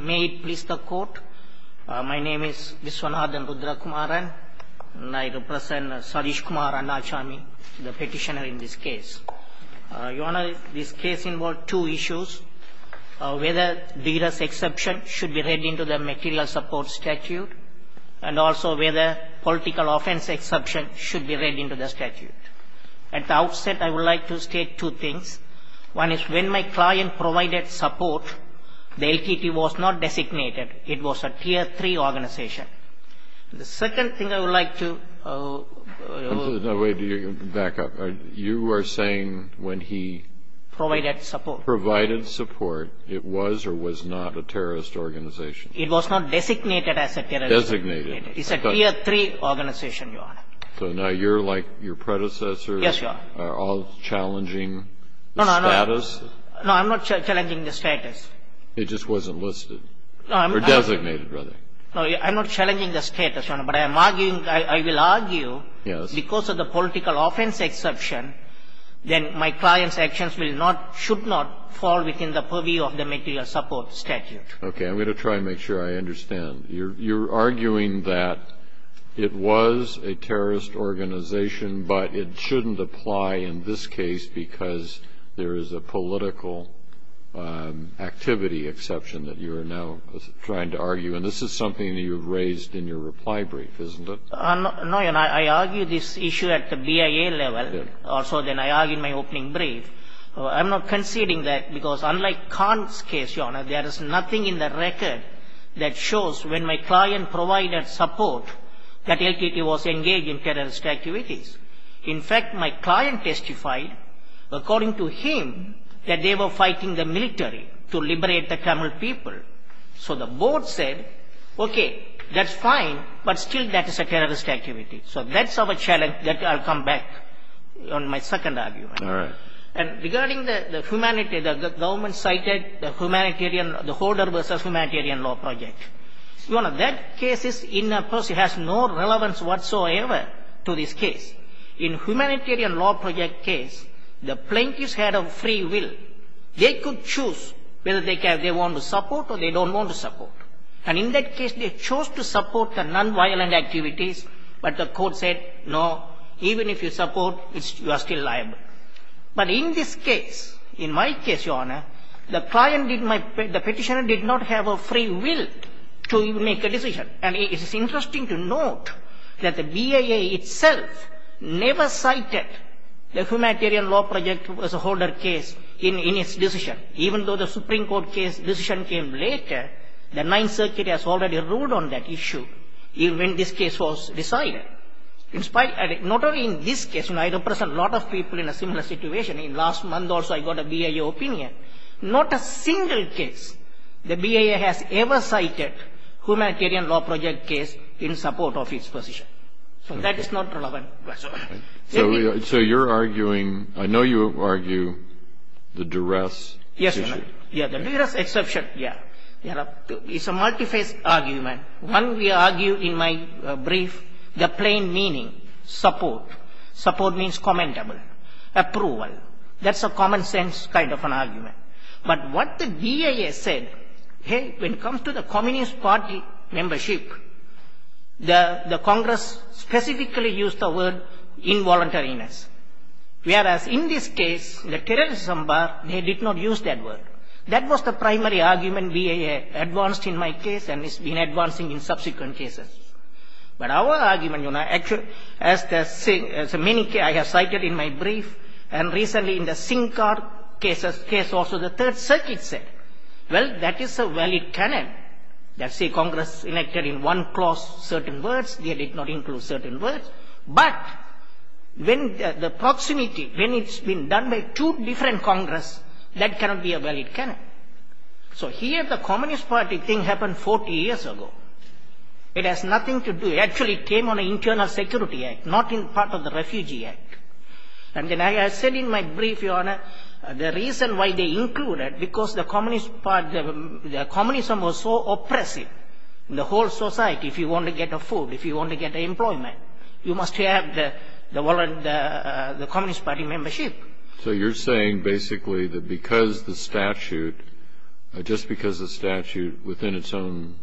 May it please the court, my name is Vishwanathan Rudrakumaran and I represent Sadish Kumar Annachamy, the petitioner in this case. Your Honour, this case involves two issues, whether D.R.'s exception should be read into the material support statute and also whether political offence exception should be read into the statute. At the outset I would like to state two things. One is when my client provided support, the LTT was not designated, it was a tier 3 organisation. The second thing I would like to... Wait, back up. You are saying when he provided support, it was or was not a terrorist organisation? It was not designated as a terrorist organisation. It is a tier 3 organisation, Your Honour. So now you are like your predecessors are all challenging the status? No, no, no. I am not challenging the status. It just wasn't listed. Or designated, rather. No, I am not challenging the status, Your Honour, but I am arguing, I will argue... Yes. ...because of the political offence exception, then my client's actions will not, should not fall within the purview of the material support statute. Okay, I am going to try and make sure I understand. You are arguing that it was a terrorist organisation, but it shouldn't apply in this case because there is a political activity exception that you are now trying to argue. And this is something that you have raised in your reply brief, isn't it? No, Your Honour. I argue this issue at the BIA level, also then I argue in my opening brief. I am not conceding that because unlike Khan's case, Your Honour, there is nothing in the record that shows when my client provided support that LTT was engaged in terrorist activities. In fact, my client testified, according to him, that they were fighting the military to liberate the Tamil people. So the board said, okay, that's fine, but still that is a terrorist activity. So that's our challenge. I'll come back on my second argument. All right. And regarding the humanitarian, the government cited the humanitarian, the hoarder versus humanitarian law project, Your Honour, that case has no relevance whatsoever to this case. In humanitarian law project case, the plaintiffs had a free will. They could choose whether they want to support or they don't want to support. And in that case, they chose to support the non-violent activities, but the court said, no, even if you support, you are still liable. But in this case, in my case, Your Honour, the petitioner did not have a free will to even make a decision. And it is interesting to note that the BIA itself never cited the humanitarian law project as a hoarder case in its decision. Even though the Supreme Court case decision came later, the Ninth Circuit has already ruled on that issue, even when this case was decided. Not only in this case, I represent a lot of people in a similar situation. Last month also I got a BIA opinion. Not a single case the BIA has ever cited humanitarian law project case in support of its position. So that is not relevant whatsoever. So you're arguing, I know you argue the duress issue. Yeah, the duress issue, yeah. It's a multiphase argument. One we argue in my brief, the plain meaning, support. Support means commentable. Approval. That's a common sense kind of an argument. But what the BIA said, hey, when it comes to the Communist Party membership, the Congress specifically used the word involuntariness. Whereas in this case, the terrorism bar, they did not use that word. That was the primary argument BIA advanced in my case, and it's been advancing in subsequent cases. But our argument, you know, actually, as many cases I have cited in my brief, and recently in the Sinkhar case, also the Third Circuit said, well, that is a valid canon. They say Congress enacted in one clause certain words, they did not include certain words. But when the proximity, when it's been done by two different Congress, that cannot be a valid canon. So here the Communist Party thing happened 40 years ago. It has nothing to do, actually came on an Internal Security Act, not in part of the Refugee Act. And then I said in my brief, Your Honor, the reason why they included, because the Communist Party, the Communism was so oppressive in the whole society. If you want to get food, if you want to get employment, you must have the Communist Party membership. So you're saying basically that because the statute, just because the statute within its own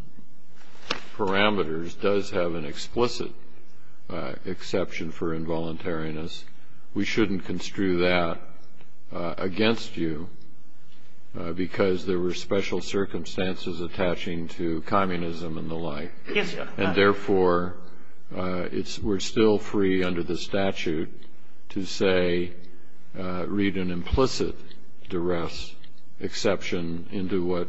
parameters does have an explicit exception for involuntariness, we shouldn't construe that against you because there were special circumstances attaching to communism and the like. Yes, Your Honor. And therefore, it's, we're still free under the statute to say, read an implicit duress exception into what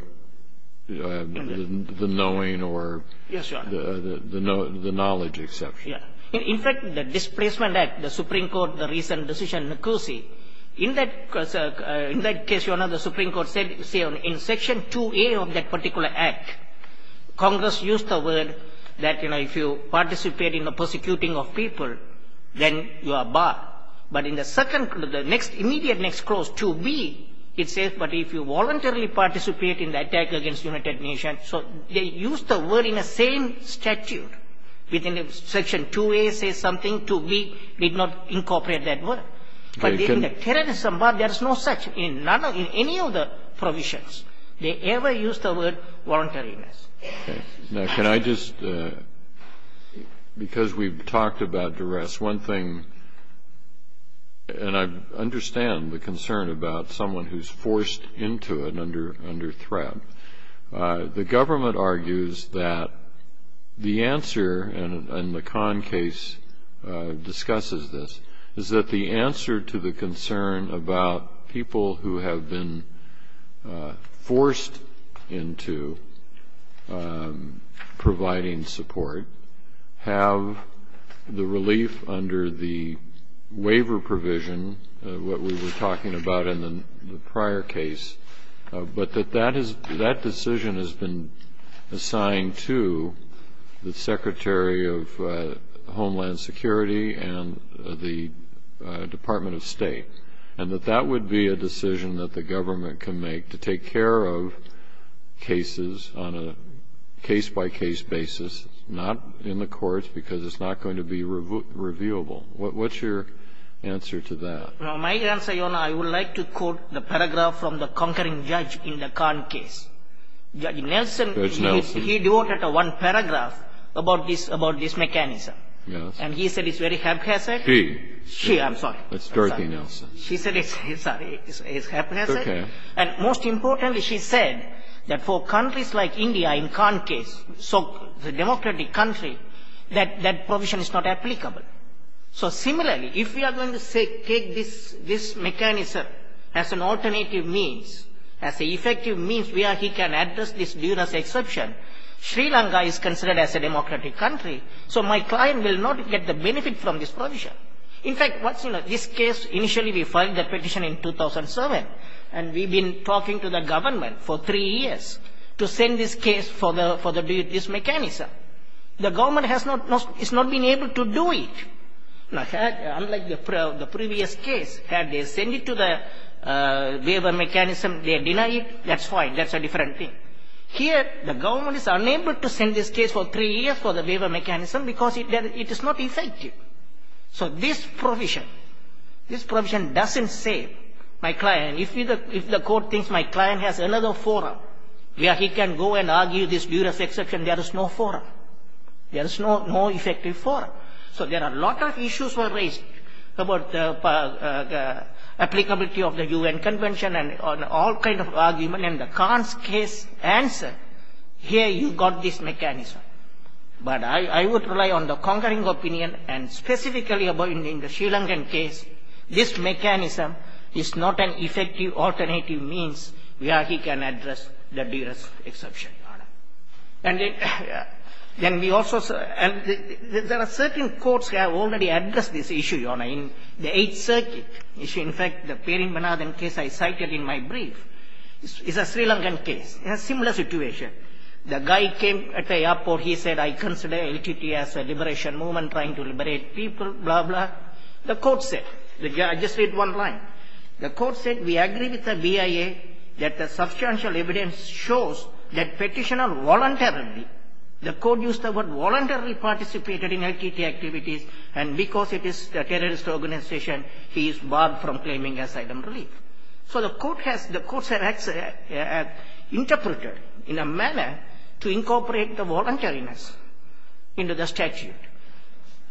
the knowing or the knowledge exception. In fact, the Displacement Act, the Supreme Court, the recent decision in Nicosia, in that case, Your Honor, the Supreme Court said in Section 2A of that particular Act, Congress used the word that, you know, if you participate in the persecuting of people, then you are barred. But in the second, the next, immediate next clause, 2B, it says, but if you voluntarily participate in the attack against United Nations, so they used the word in the same statute within Section 2A says something, 2B did not incorporate that word. But in the terrorism bar, there is no such, in any of the provisions, they never used the word voluntariness. Okay. Now, can I just, because we've talked about duress, one thing, and I understand the concern about someone who's forced into it under threat, the government argues that the answer, and the Kahn case discusses this, is that the answer to the concern about people who have been forced into providing support have the relief under the waiver provision of what we were talking about in the prior case, but that that decision has been assigned to the Secretary of Homeland Security and the Department of State, and that that would be a decision that the government can make to take care of cases on a case-by-case basis, not in the courts, because it's not going to be reviewable. What's your answer to that? My answer, Your Honor, I would like to quote the paragraph from the conquering judge in the Kahn case. Judge Nelson, he devoted one paragraph about this mechanism. Yes. And he said it's very haphazard. She. She, I'm sorry. It's Dorothy Nelson. She said it's haphazard. Okay. And most importantly, she said that for countries like India in Kahn case, so a democratic country, that that provision is not applicable. So similarly, if we are going to take this mechanism as an alternative means, as an effective means where he can address this duress exception, Sri Lanka is considered as a democratic country, so my client will not get the benefit from this provision. In fact, this case, initially we filed the petition in 2007, and we've been talking to the government for three years to send this case for this mechanism. The government has not been able to do it. Unlike the previous case, had they sent it to the waiver mechanism, they denied it. That's fine. That's a different thing. Here, the government is unable to send this case for three years for the waiver mechanism because it is not effective. So this provision, this provision doesn't save my client. If the court thinks my client has another forum where he can go and argue this duress exception, there is no forum. There is no effective forum. So there are a lot of issues raised about the applicability of the UN Convention and all kinds of arguments, and the Kahn's case here, you've got this mechanism. But I would rely on the conquering opinion, and specifically in the Sri Lankan case, this mechanism is not an effective alternative means where he can address the duress exception. And there are certain courts that have already addressed this issue, Your Honor, in the Eighth Circuit. In fact, the Perinbanadan case I cited in my brief is a Sri Lankan case, a similar situation. The guy came at the airport. He said, I consider LTT as a liberation movement trying to liberate people, blah, blah. The court said, I just read one line. The court said, we agree with the BIA that the substantial evidence shows that petitioner voluntarily, the court used the word voluntarily participated in LTT activities, and because it is a terrorist organization, he is barred from claiming asylum and relief. So the court has, the courts have interpreted in a manner to incorporate the voluntariness into the statute.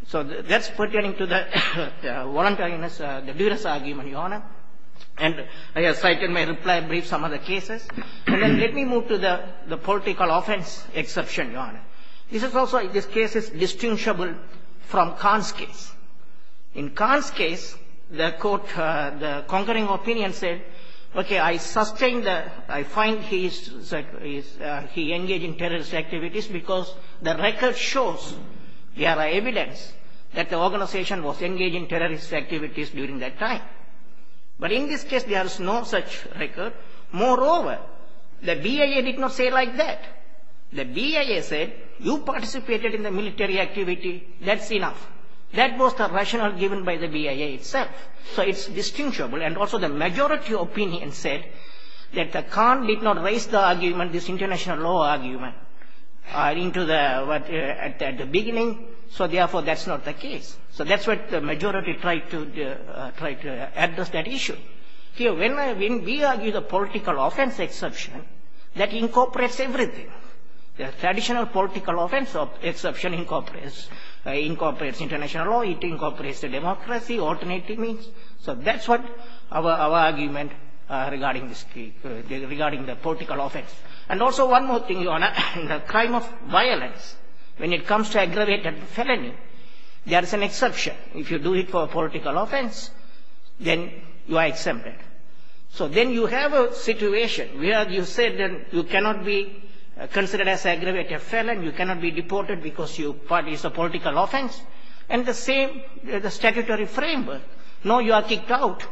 So that's pertaining to the voluntariness, the duress argument, Your Honor. And I have cited in my reply brief some other cases. And then let me move to the political offense exception, Your Honor. This is also, this from Khan's case. In Khan's case, the court, the concurring opinion said, okay, I sustained the, I find he is, he engaged in terrorist activities because the record shows there are evidence that the organization was engaged in terrorist activities during that time. But in this case, there is no such record. Moreover, the BIA did not say like that. The terrorist activity, that's enough. That was the rationale given by the BIA itself. So it's distinguishable. And also the majority opinion said that the Khan did not raise the argument, this international law argument, into the, at the beginning, so therefore that's not the case. So that's what the majority tried to address that issue. Here, when we argue the political offense exception, that incorporates everything. The additional political offense exception incorporates international law, it incorporates democracy, alternative means. So that's what our argument regarding the political offense. And also one more thing, Your Honor, the crime of violence, when it comes to aggravated felony, there is an exception. If you do it for political offense, then you are exempted. So then you have a situation where you said that you cannot be considered as aggravated felony, you cannot be deported because it's a political offense. And the same, the statutory framework, no, you are kicked out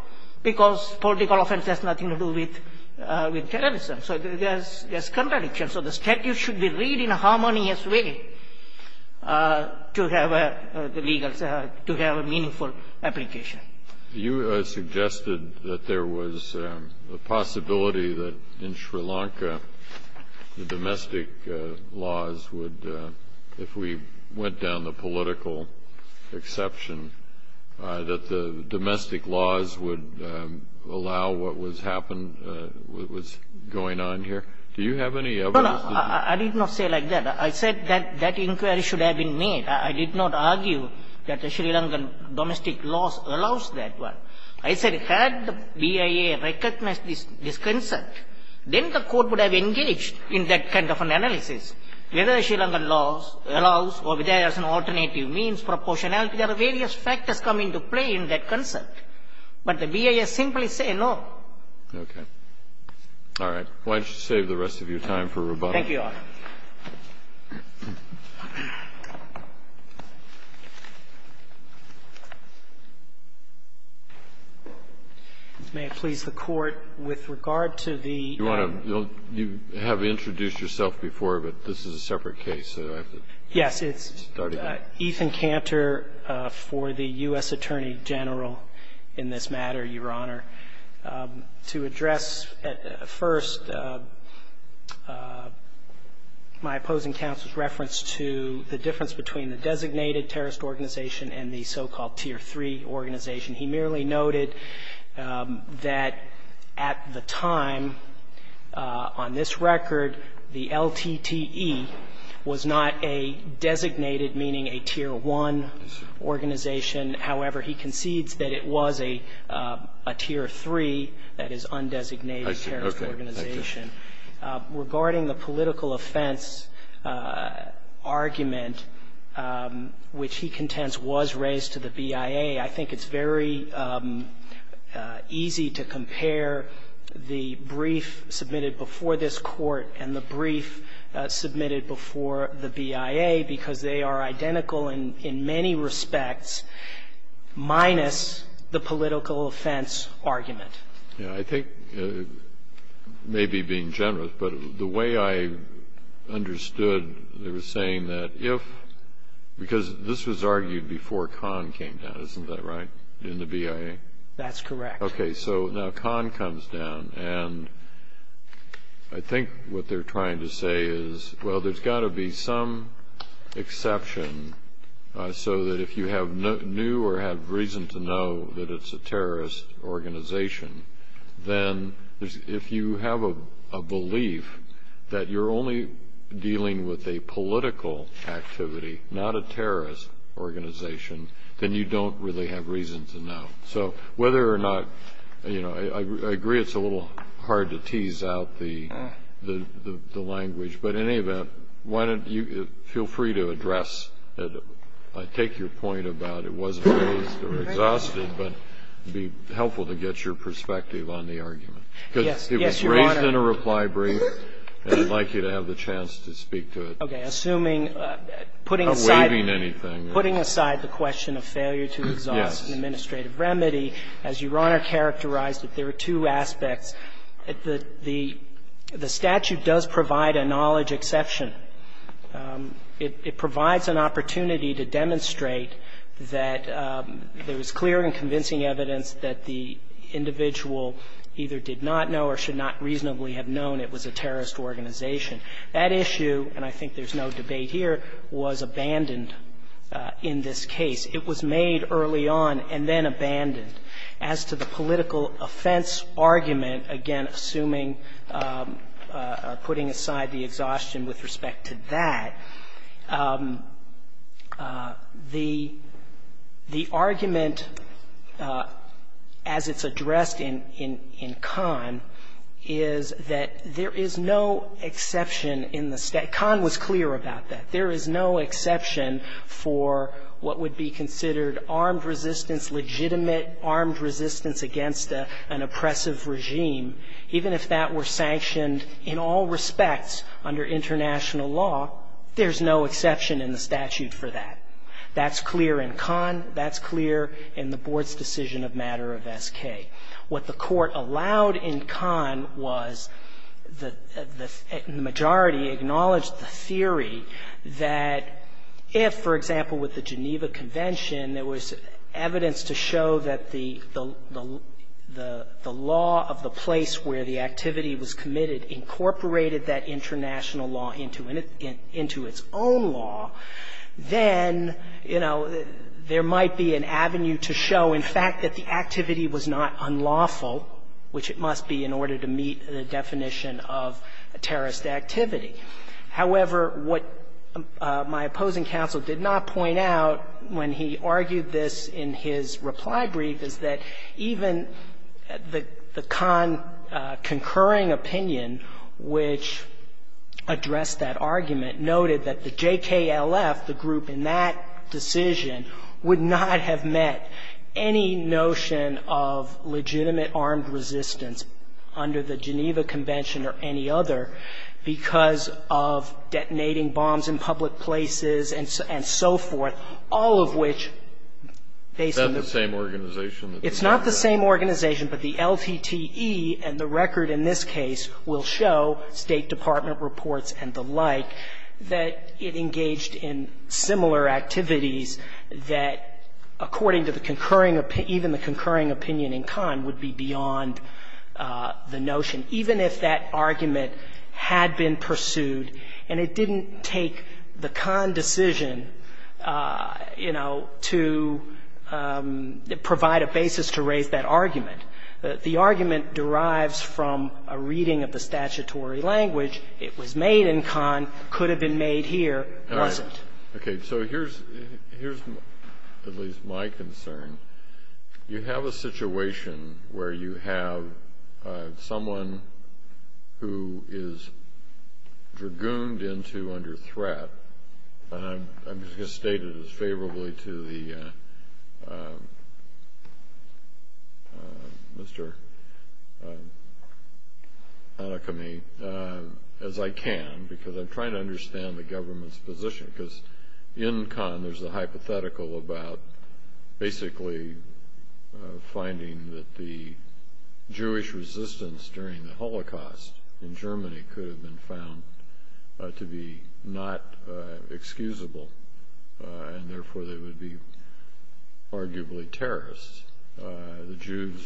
because political offense has nothing to do with terrorism. So there's contradiction. So the statute should be read in a harmonious way to have a legal, to have a meaningful application. You suggested that there was a possibility that in Sri Lanka the domestic laws would, if we went down the political exception, that the domestic laws would allow what was happened, what was going on here. Do you have any evidence? No, no. I did not say like that. I said that that inquiry should have been made. I did not argue that the Sri Lankan domestic laws allows that one. I said had the BIA recognized this concept, then the Court would have engaged in that kind of an analysis, whether Sri Lankan laws allows or whether there's an alternative means, proportionality. There are various factors come into play in that concept. But the BIA simply say no. Okay. All right. Why don't you save the rest of your time for rebuttal. Thank you, Your Honor. May it please the Court, with regard to the ---- You want to ---- you have introduced yourself before, but this is a separate case, so I have to start again. Yes. It's Ethan Cantor for the U.S. Attorney General in this matter, Your Honor. To address at first my opposing counsel's reference to the difference between the designated terrorist organization and the so-called Tier 3 organization. He merely noted that at the time, on this record, the LTTE was not a designated, meaning a Tier 1 organization. However, he concedes that it was a Tier 1 organization and not a Tier 3, that is, undesignated terrorist organization. Regarding the political offense argument, which he contends was raised to the BIA, I think it's very easy to compare the brief submitted before this Court and the brief submitted before the BIA, because they are identical in many respects, minus the political offense argument. Yes. I think, maybe being generous, but the way I understood, they were saying that if ---- because this was argued before Kahn came down, isn't that right, in the BIA? That's correct. Okay. So now Kahn comes down, and I think what they're trying to say is, well, there's got to be some exception so that if you have new or have reason to know that it's a terrorist organization, then if you have a belief that you're only dealing with a political activity, not a terrorist organization, then you don't really have reason to know. So whether or not, you know, I agree it's a little hard to tease out the language, but in any event, why don't you feel free to address it. I take your point about it wasn't raised or exhausted, but it would be helpful to get your perspective on the argument, because it was raised in a reply brief, and I'd like you to have the chance to speak to it. Okay. Assuming, putting aside the question of failure to exhaust an administrative remedy, as Your Honor characterized it, there are two aspects. The statute does provide a knowledge exception. It provides an opportunity to demonstrate that there is clear and convincing evidence that the individual either did not know or should not reasonably have known it was a terrorist organization. That issue, and I think there's no debate here, was abandoned in this case. It was made early on and then abandoned. As to the political offense argument, again, assuming or putting aside the exhaustion with respect to that, the argument as it's addressed in Kahn is that there is no exception in the state. Kahn was clear about that. There is no exception for what would be considered armed resistance, legitimate armed resistance against an oppressive regime, even if that were sanctioned in all respects under international law, there's no exception in the statute for that. That's clear in Kahn. That's clear in the Board's decision of matter of SK. What the Court allowed in Kahn was the majority acknowledged the theory that if, for example, with the Geneva Convention, there was evidence to show that the law of the state incorporated that international law into its own law, then, you know, there might be an avenue to show, in fact, that the activity was not unlawful, which it must be in order to meet the definition of terrorist activity. However, what my opposing counsel did not point out when he argued this in his reply brief is that even the Kahn concurring opinion which addressed that argument noted that the JKLF, the group in that decision, would not have met any notion of legitimate armed resistance under the Geneva Convention or any other because of detonating bombs in public places and so forth, all of which based on the same organization. It's not the same organization, but the LTTE and the record in this case will show, State Department reports and the like, that it engaged in similar activities that, according to the concurring opinion, even the concurring opinion in Kahn would be beyond the notion, even if that argument had been pursued and it didn't take the Kahn decision, you know, to provide a basis to raise that argument. The argument derives from a reading of the statutory language. It was made in Kahn, could have been made here, wasn't. Kennedy. So here's at least my concern. You have a situation where you have someone who is dragooned into under threat and I'm just going to state it as favorably to the, Mr. Anakamy, as I can because I'm trying to understand the government's position because in Kahn there's a hypothetical about basically finding that the Jewish resistance during the Holocaust in Germany could have been found to be not excusable and therefore they would be arguably terrorists. The Jews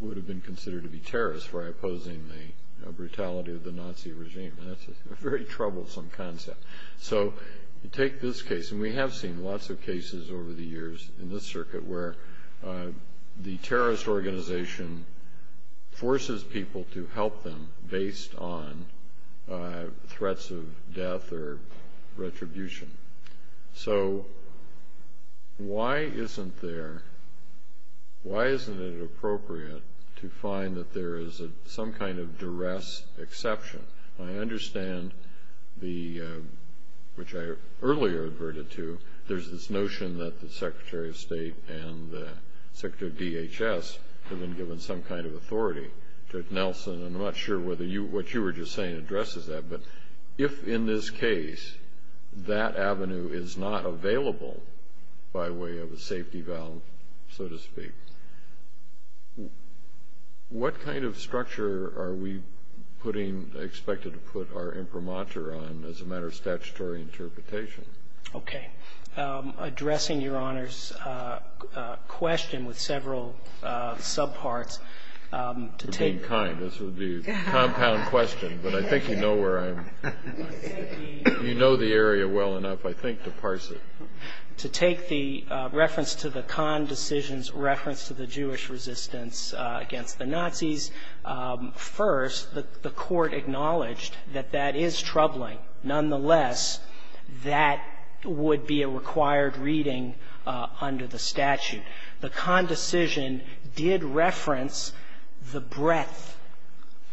would have been considered to be terrorists by opposing the brutality of the Nazi regime and that's a very troublesome concept. So you take this case, and we have seen lots of cases over the years in this circuit where the terrorist organization forces people to help them based on threats of death or retribution. So why isn't there, why isn't it appropriate to find that there is some kind of duress exception? I understand the, which I earlier adverted to, there's this notion that the Secretary of State and the Secretary of DHS have been given some kind of authority. Judge Nelson, I'm not sure whether what you were just saying addresses that, but if in this case that avenue is not available by way of a safety valve, so to speak, what kind of structure are we putting, expected to put our imprimatur on as a matter of statutory interpretation? Okay. Addressing Your Honor's question with several subparts, to take... For being kind, this would be a compound question, but I think you know where I'm, you know the area well enough, I think, to parse it. To take the reference to the Kahn decision's reference to the Jewish resistance against the Nazis, first, the court acknowledged that that is troubling. Nonetheless, that would be a required reading under the statute. The Kahn decision did reference the breadth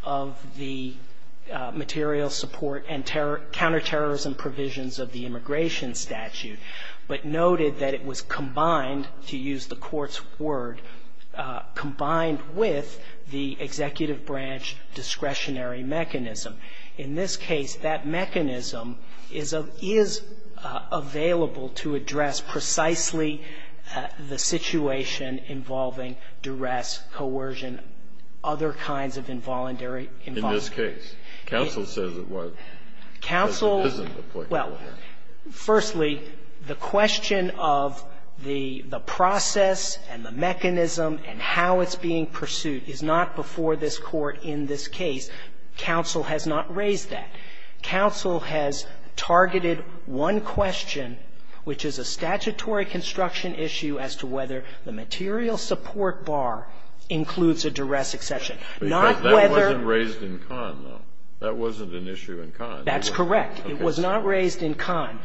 of the material support and counterterrorism provisions of the immigration statute, but noted that it was combined, to use the court's word, combined with the executive branch discretionary mechanism. In this case, that mechanism is available to address precisely the situation involving duress, coercion, other kinds of involuntary involvement. In this case? Counsel says it was. Counsel... Because it isn't applicable here. Well, firstly, the question of the process and the mechanism and how it's being pursued is not before this Court in this case. Counsel has not raised that. Counsel has targeted one question, which is a statutory construction issue, as to whether the material support bar includes a duress exception. Not whether... But that wasn't raised in Kahn, though. That wasn't an issue in Kahn. That's correct. It was not raised in Kahn.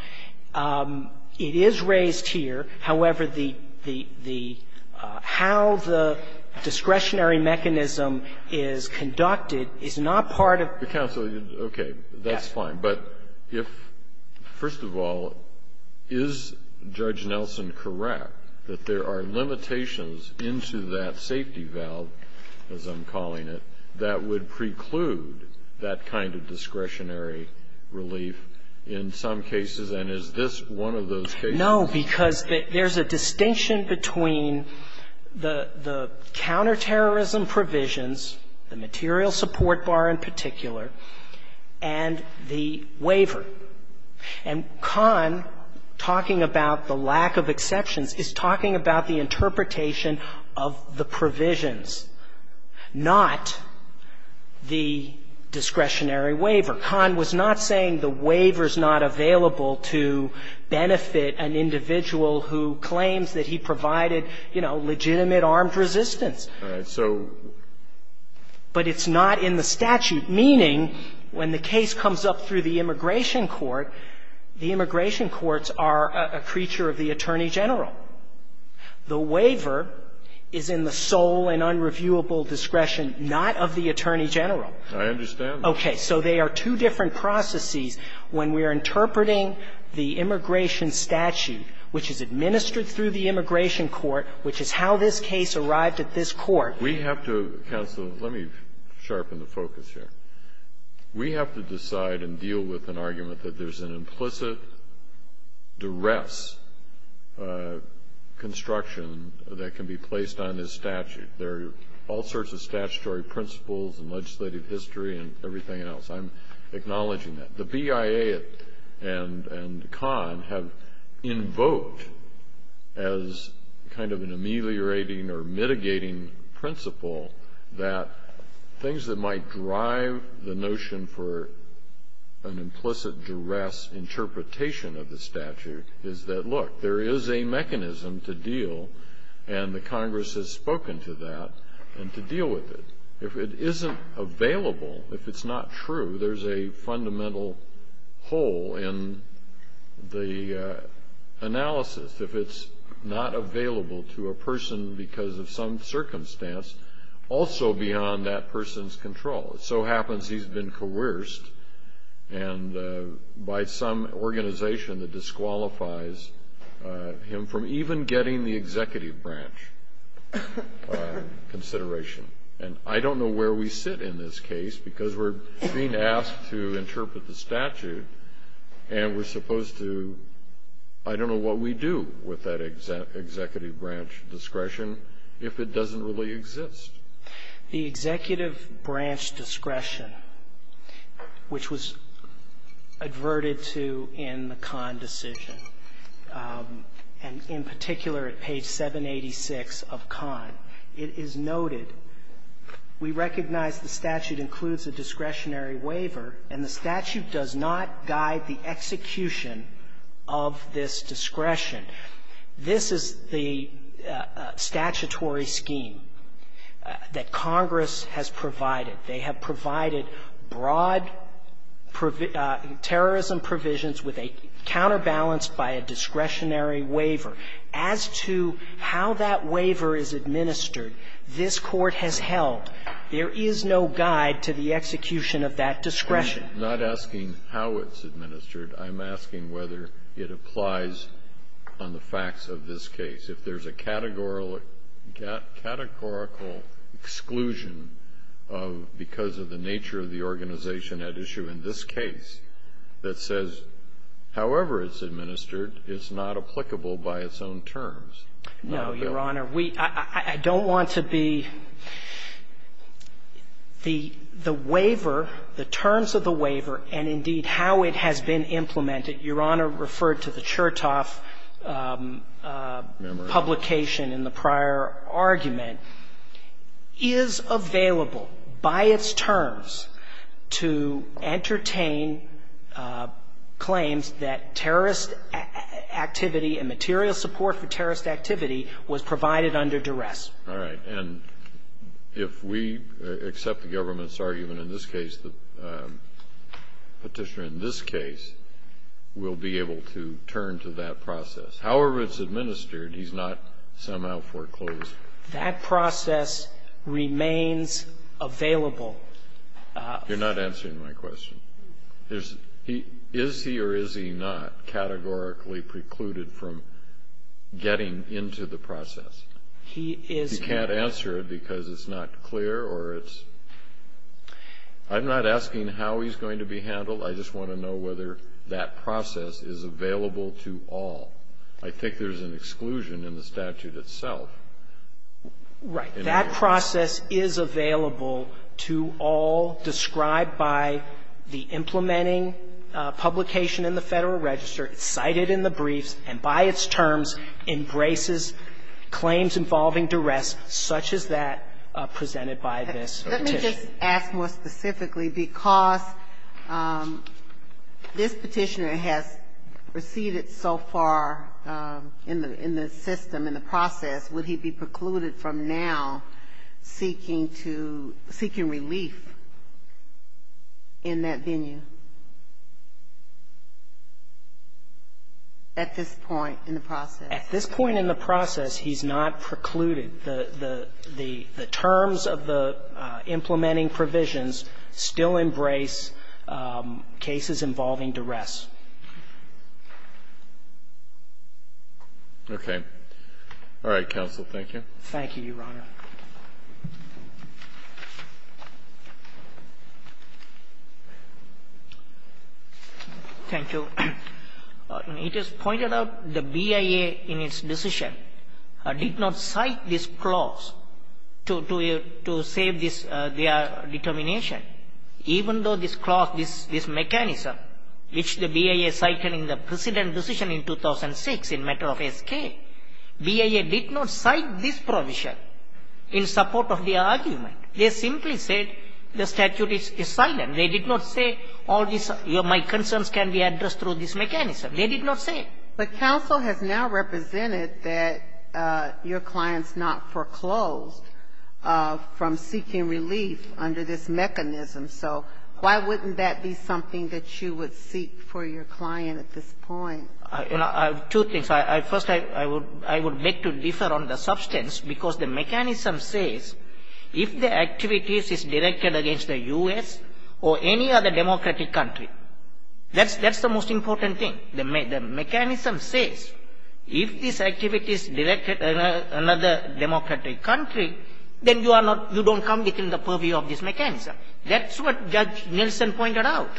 It is raised here. However, the how the discretionary mechanism is conducted is not part of... Counsel, okay. That's fine. But if, first of all, is Judge Nelson correct that there are limitations into that safety valve, as I'm calling it, that would preclude that kind of discretionary relief in some cases? And is this one of those cases? No, because there's a distinction between the counterterrorism provisions, the material support bar in particular, and the waiver. And Kahn, talking about the lack of exceptions, is talking about the interpretation of the provisions, not the discretionary waiver. Kahn was not saying the waiver's not available to benefit an individual who claims that he provided, you know, legitimate armed resistance. All right. So... But it's not in the statute, meaning when the case comes up through the immigration court, the immigration courts are a creature of the Attorney General. The waiver is in the sole and unreviewable discretion not of the Attorney General. I understand that. Okay. So they are two different processes. When we are interpreting the immigration statute, which is administered through the immigration court, which is how this case arrived at this court. We have to, counsel, let me sharpen the focus here. We have to decide and deal with an argument that there's an implicit duress construction that can be placed on this statute. There are all sorts of statutory principles and legislative history and everything else. I'm acknowledging that. The BIA and Kahn have invoked as kind of an ameliorating or mitigating principle that things that might drive the notion for an implicit duress interpretation of the statute is that, look, there is a mechanism to deal, and the Congress has spoken to that, and to deal with it. If it isn't available, if it's not true, there's a fundamental hole in the analysis. If it's not available to a person because of some circumstance, also beyond that person's control. It so happens he's been coerced by some organization that disqualifies him from even getting the executive branch consideration. And I don't know where we sit in this case, because we're being asked to interpret the statute, and we're supposed to, I don't know what we do with that executive branch discretion if it doesn't really exist. The executive branch discretion, which was adverted to in the Kahn decision, and in particular at page 786 of Kahn, it is noted, we recognize the statute includes a discretionary waiver, and the statute does not guide the execution of this discretion. This is the statutory scheme that Congress has provided. They have provided broad terrorism provisions with a counterbalance by a discretionary waiver. As to how that waiver is administered, this Court has held there is no guide to the execution of that discretion. I'm not asking how it's administered. I'm asking whether it applies on the facts of this case. If there's a categorical exclusion of because of the nature of the organization at issue in this case that says, however it's administered, it's not applicable by its own terms. No, Your Honor. We don't want to be the waiver, the terms of the waiver, and, indeed, how it has been implemented. Your Honor referred to the Chertoff publication in the prior argument. The Chertoff publication is available by its terms to entertain claims that terrorist activity and material support for terrorist activity was provided under duress. All right. And if we accept the government's argument in this case, the Petitioner in this case will be able to turn to that process. However it's administered, he's not somehow foreclosed. That process remains available. You're not answering my question. Is he or is he not categorically precluded from getting into the process? He is. You can't answer it because it's not clear or it's — I'm not asking how he's going to be handled. I just want to know whether that process is available to all. I think there's an exclusion in the statute itself. Right. That process is available to all, described by the implementing publication in the Federal Register, cited in the briefs, and by its terms embraces claims involving duress such as that presented by this Petitioner. If I may ask more specifically, because this Petitioner has receded so far in the system, in the process, would he be precluded from now seeking to — seeking relief in that venue at this point in the process? At this point in the process, he's not precluded. The terms of the implementing provisions still embrace cases involving duress. Okay. All right, counsel, thank you. Thank you, Your Honor. Thank you. It is pointed out the BIA, in its decision, did not cite this clause to save their determination, even though this clause, this mechanism, which the BIA cited in the precedent decision in 2006 in matter of escape, BIA did not cite this provision in support of the argument. They simply said the statute is silent. They did not say all these — my concerns can be addressed through this mechanism. They did not say it. But counsel has now represented that your client's not foreclosed from seeking relief under this mechanism. So why wouldn't that be something that you would seek for your client at this point? Two things. First, I would beg to differ on the substance, because the mechanism says if the activities are directed against the U.S. or any other democratic country, that's the most important thing. The mechanism says if this activity is directed at another democratic country, then you are not — you don't come within the purview of this mechanism. That's what Judge Nielsen pointed out.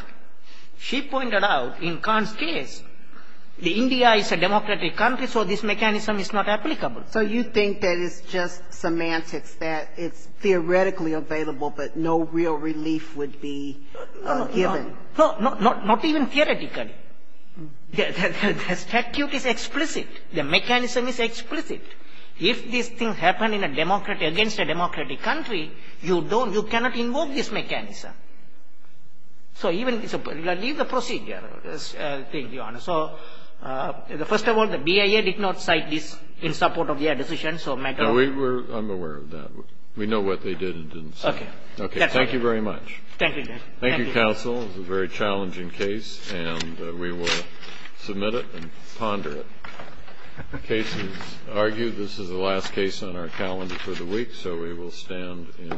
She pointed out, in Kahn's case, that India is a democratic country, so this mechanism is not applicable. So you think that it's just semantics, that it's theoretically available, but no real relief would be given? No, not even theoretically. The statute is explicit. The mechanism is explicit. If this thing happened in a democratic — against a democratic country, you don't — you cannot invoke this mechanism. So even — leave the procedure, Your Honor. So, first of all, the BIA did not cite this in support of their decision, so — No, we were — I'm aware of that. We know what they did and didn't say. Okay. Okay. Thank you very much. Thank you, Judge. Thank you, counsel. It was a very challenging case, and we will submit it and ponder it. The case is argued. This is the last case on our calendar for the week, so we will stand in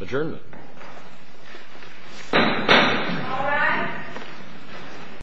adjournment. All rise.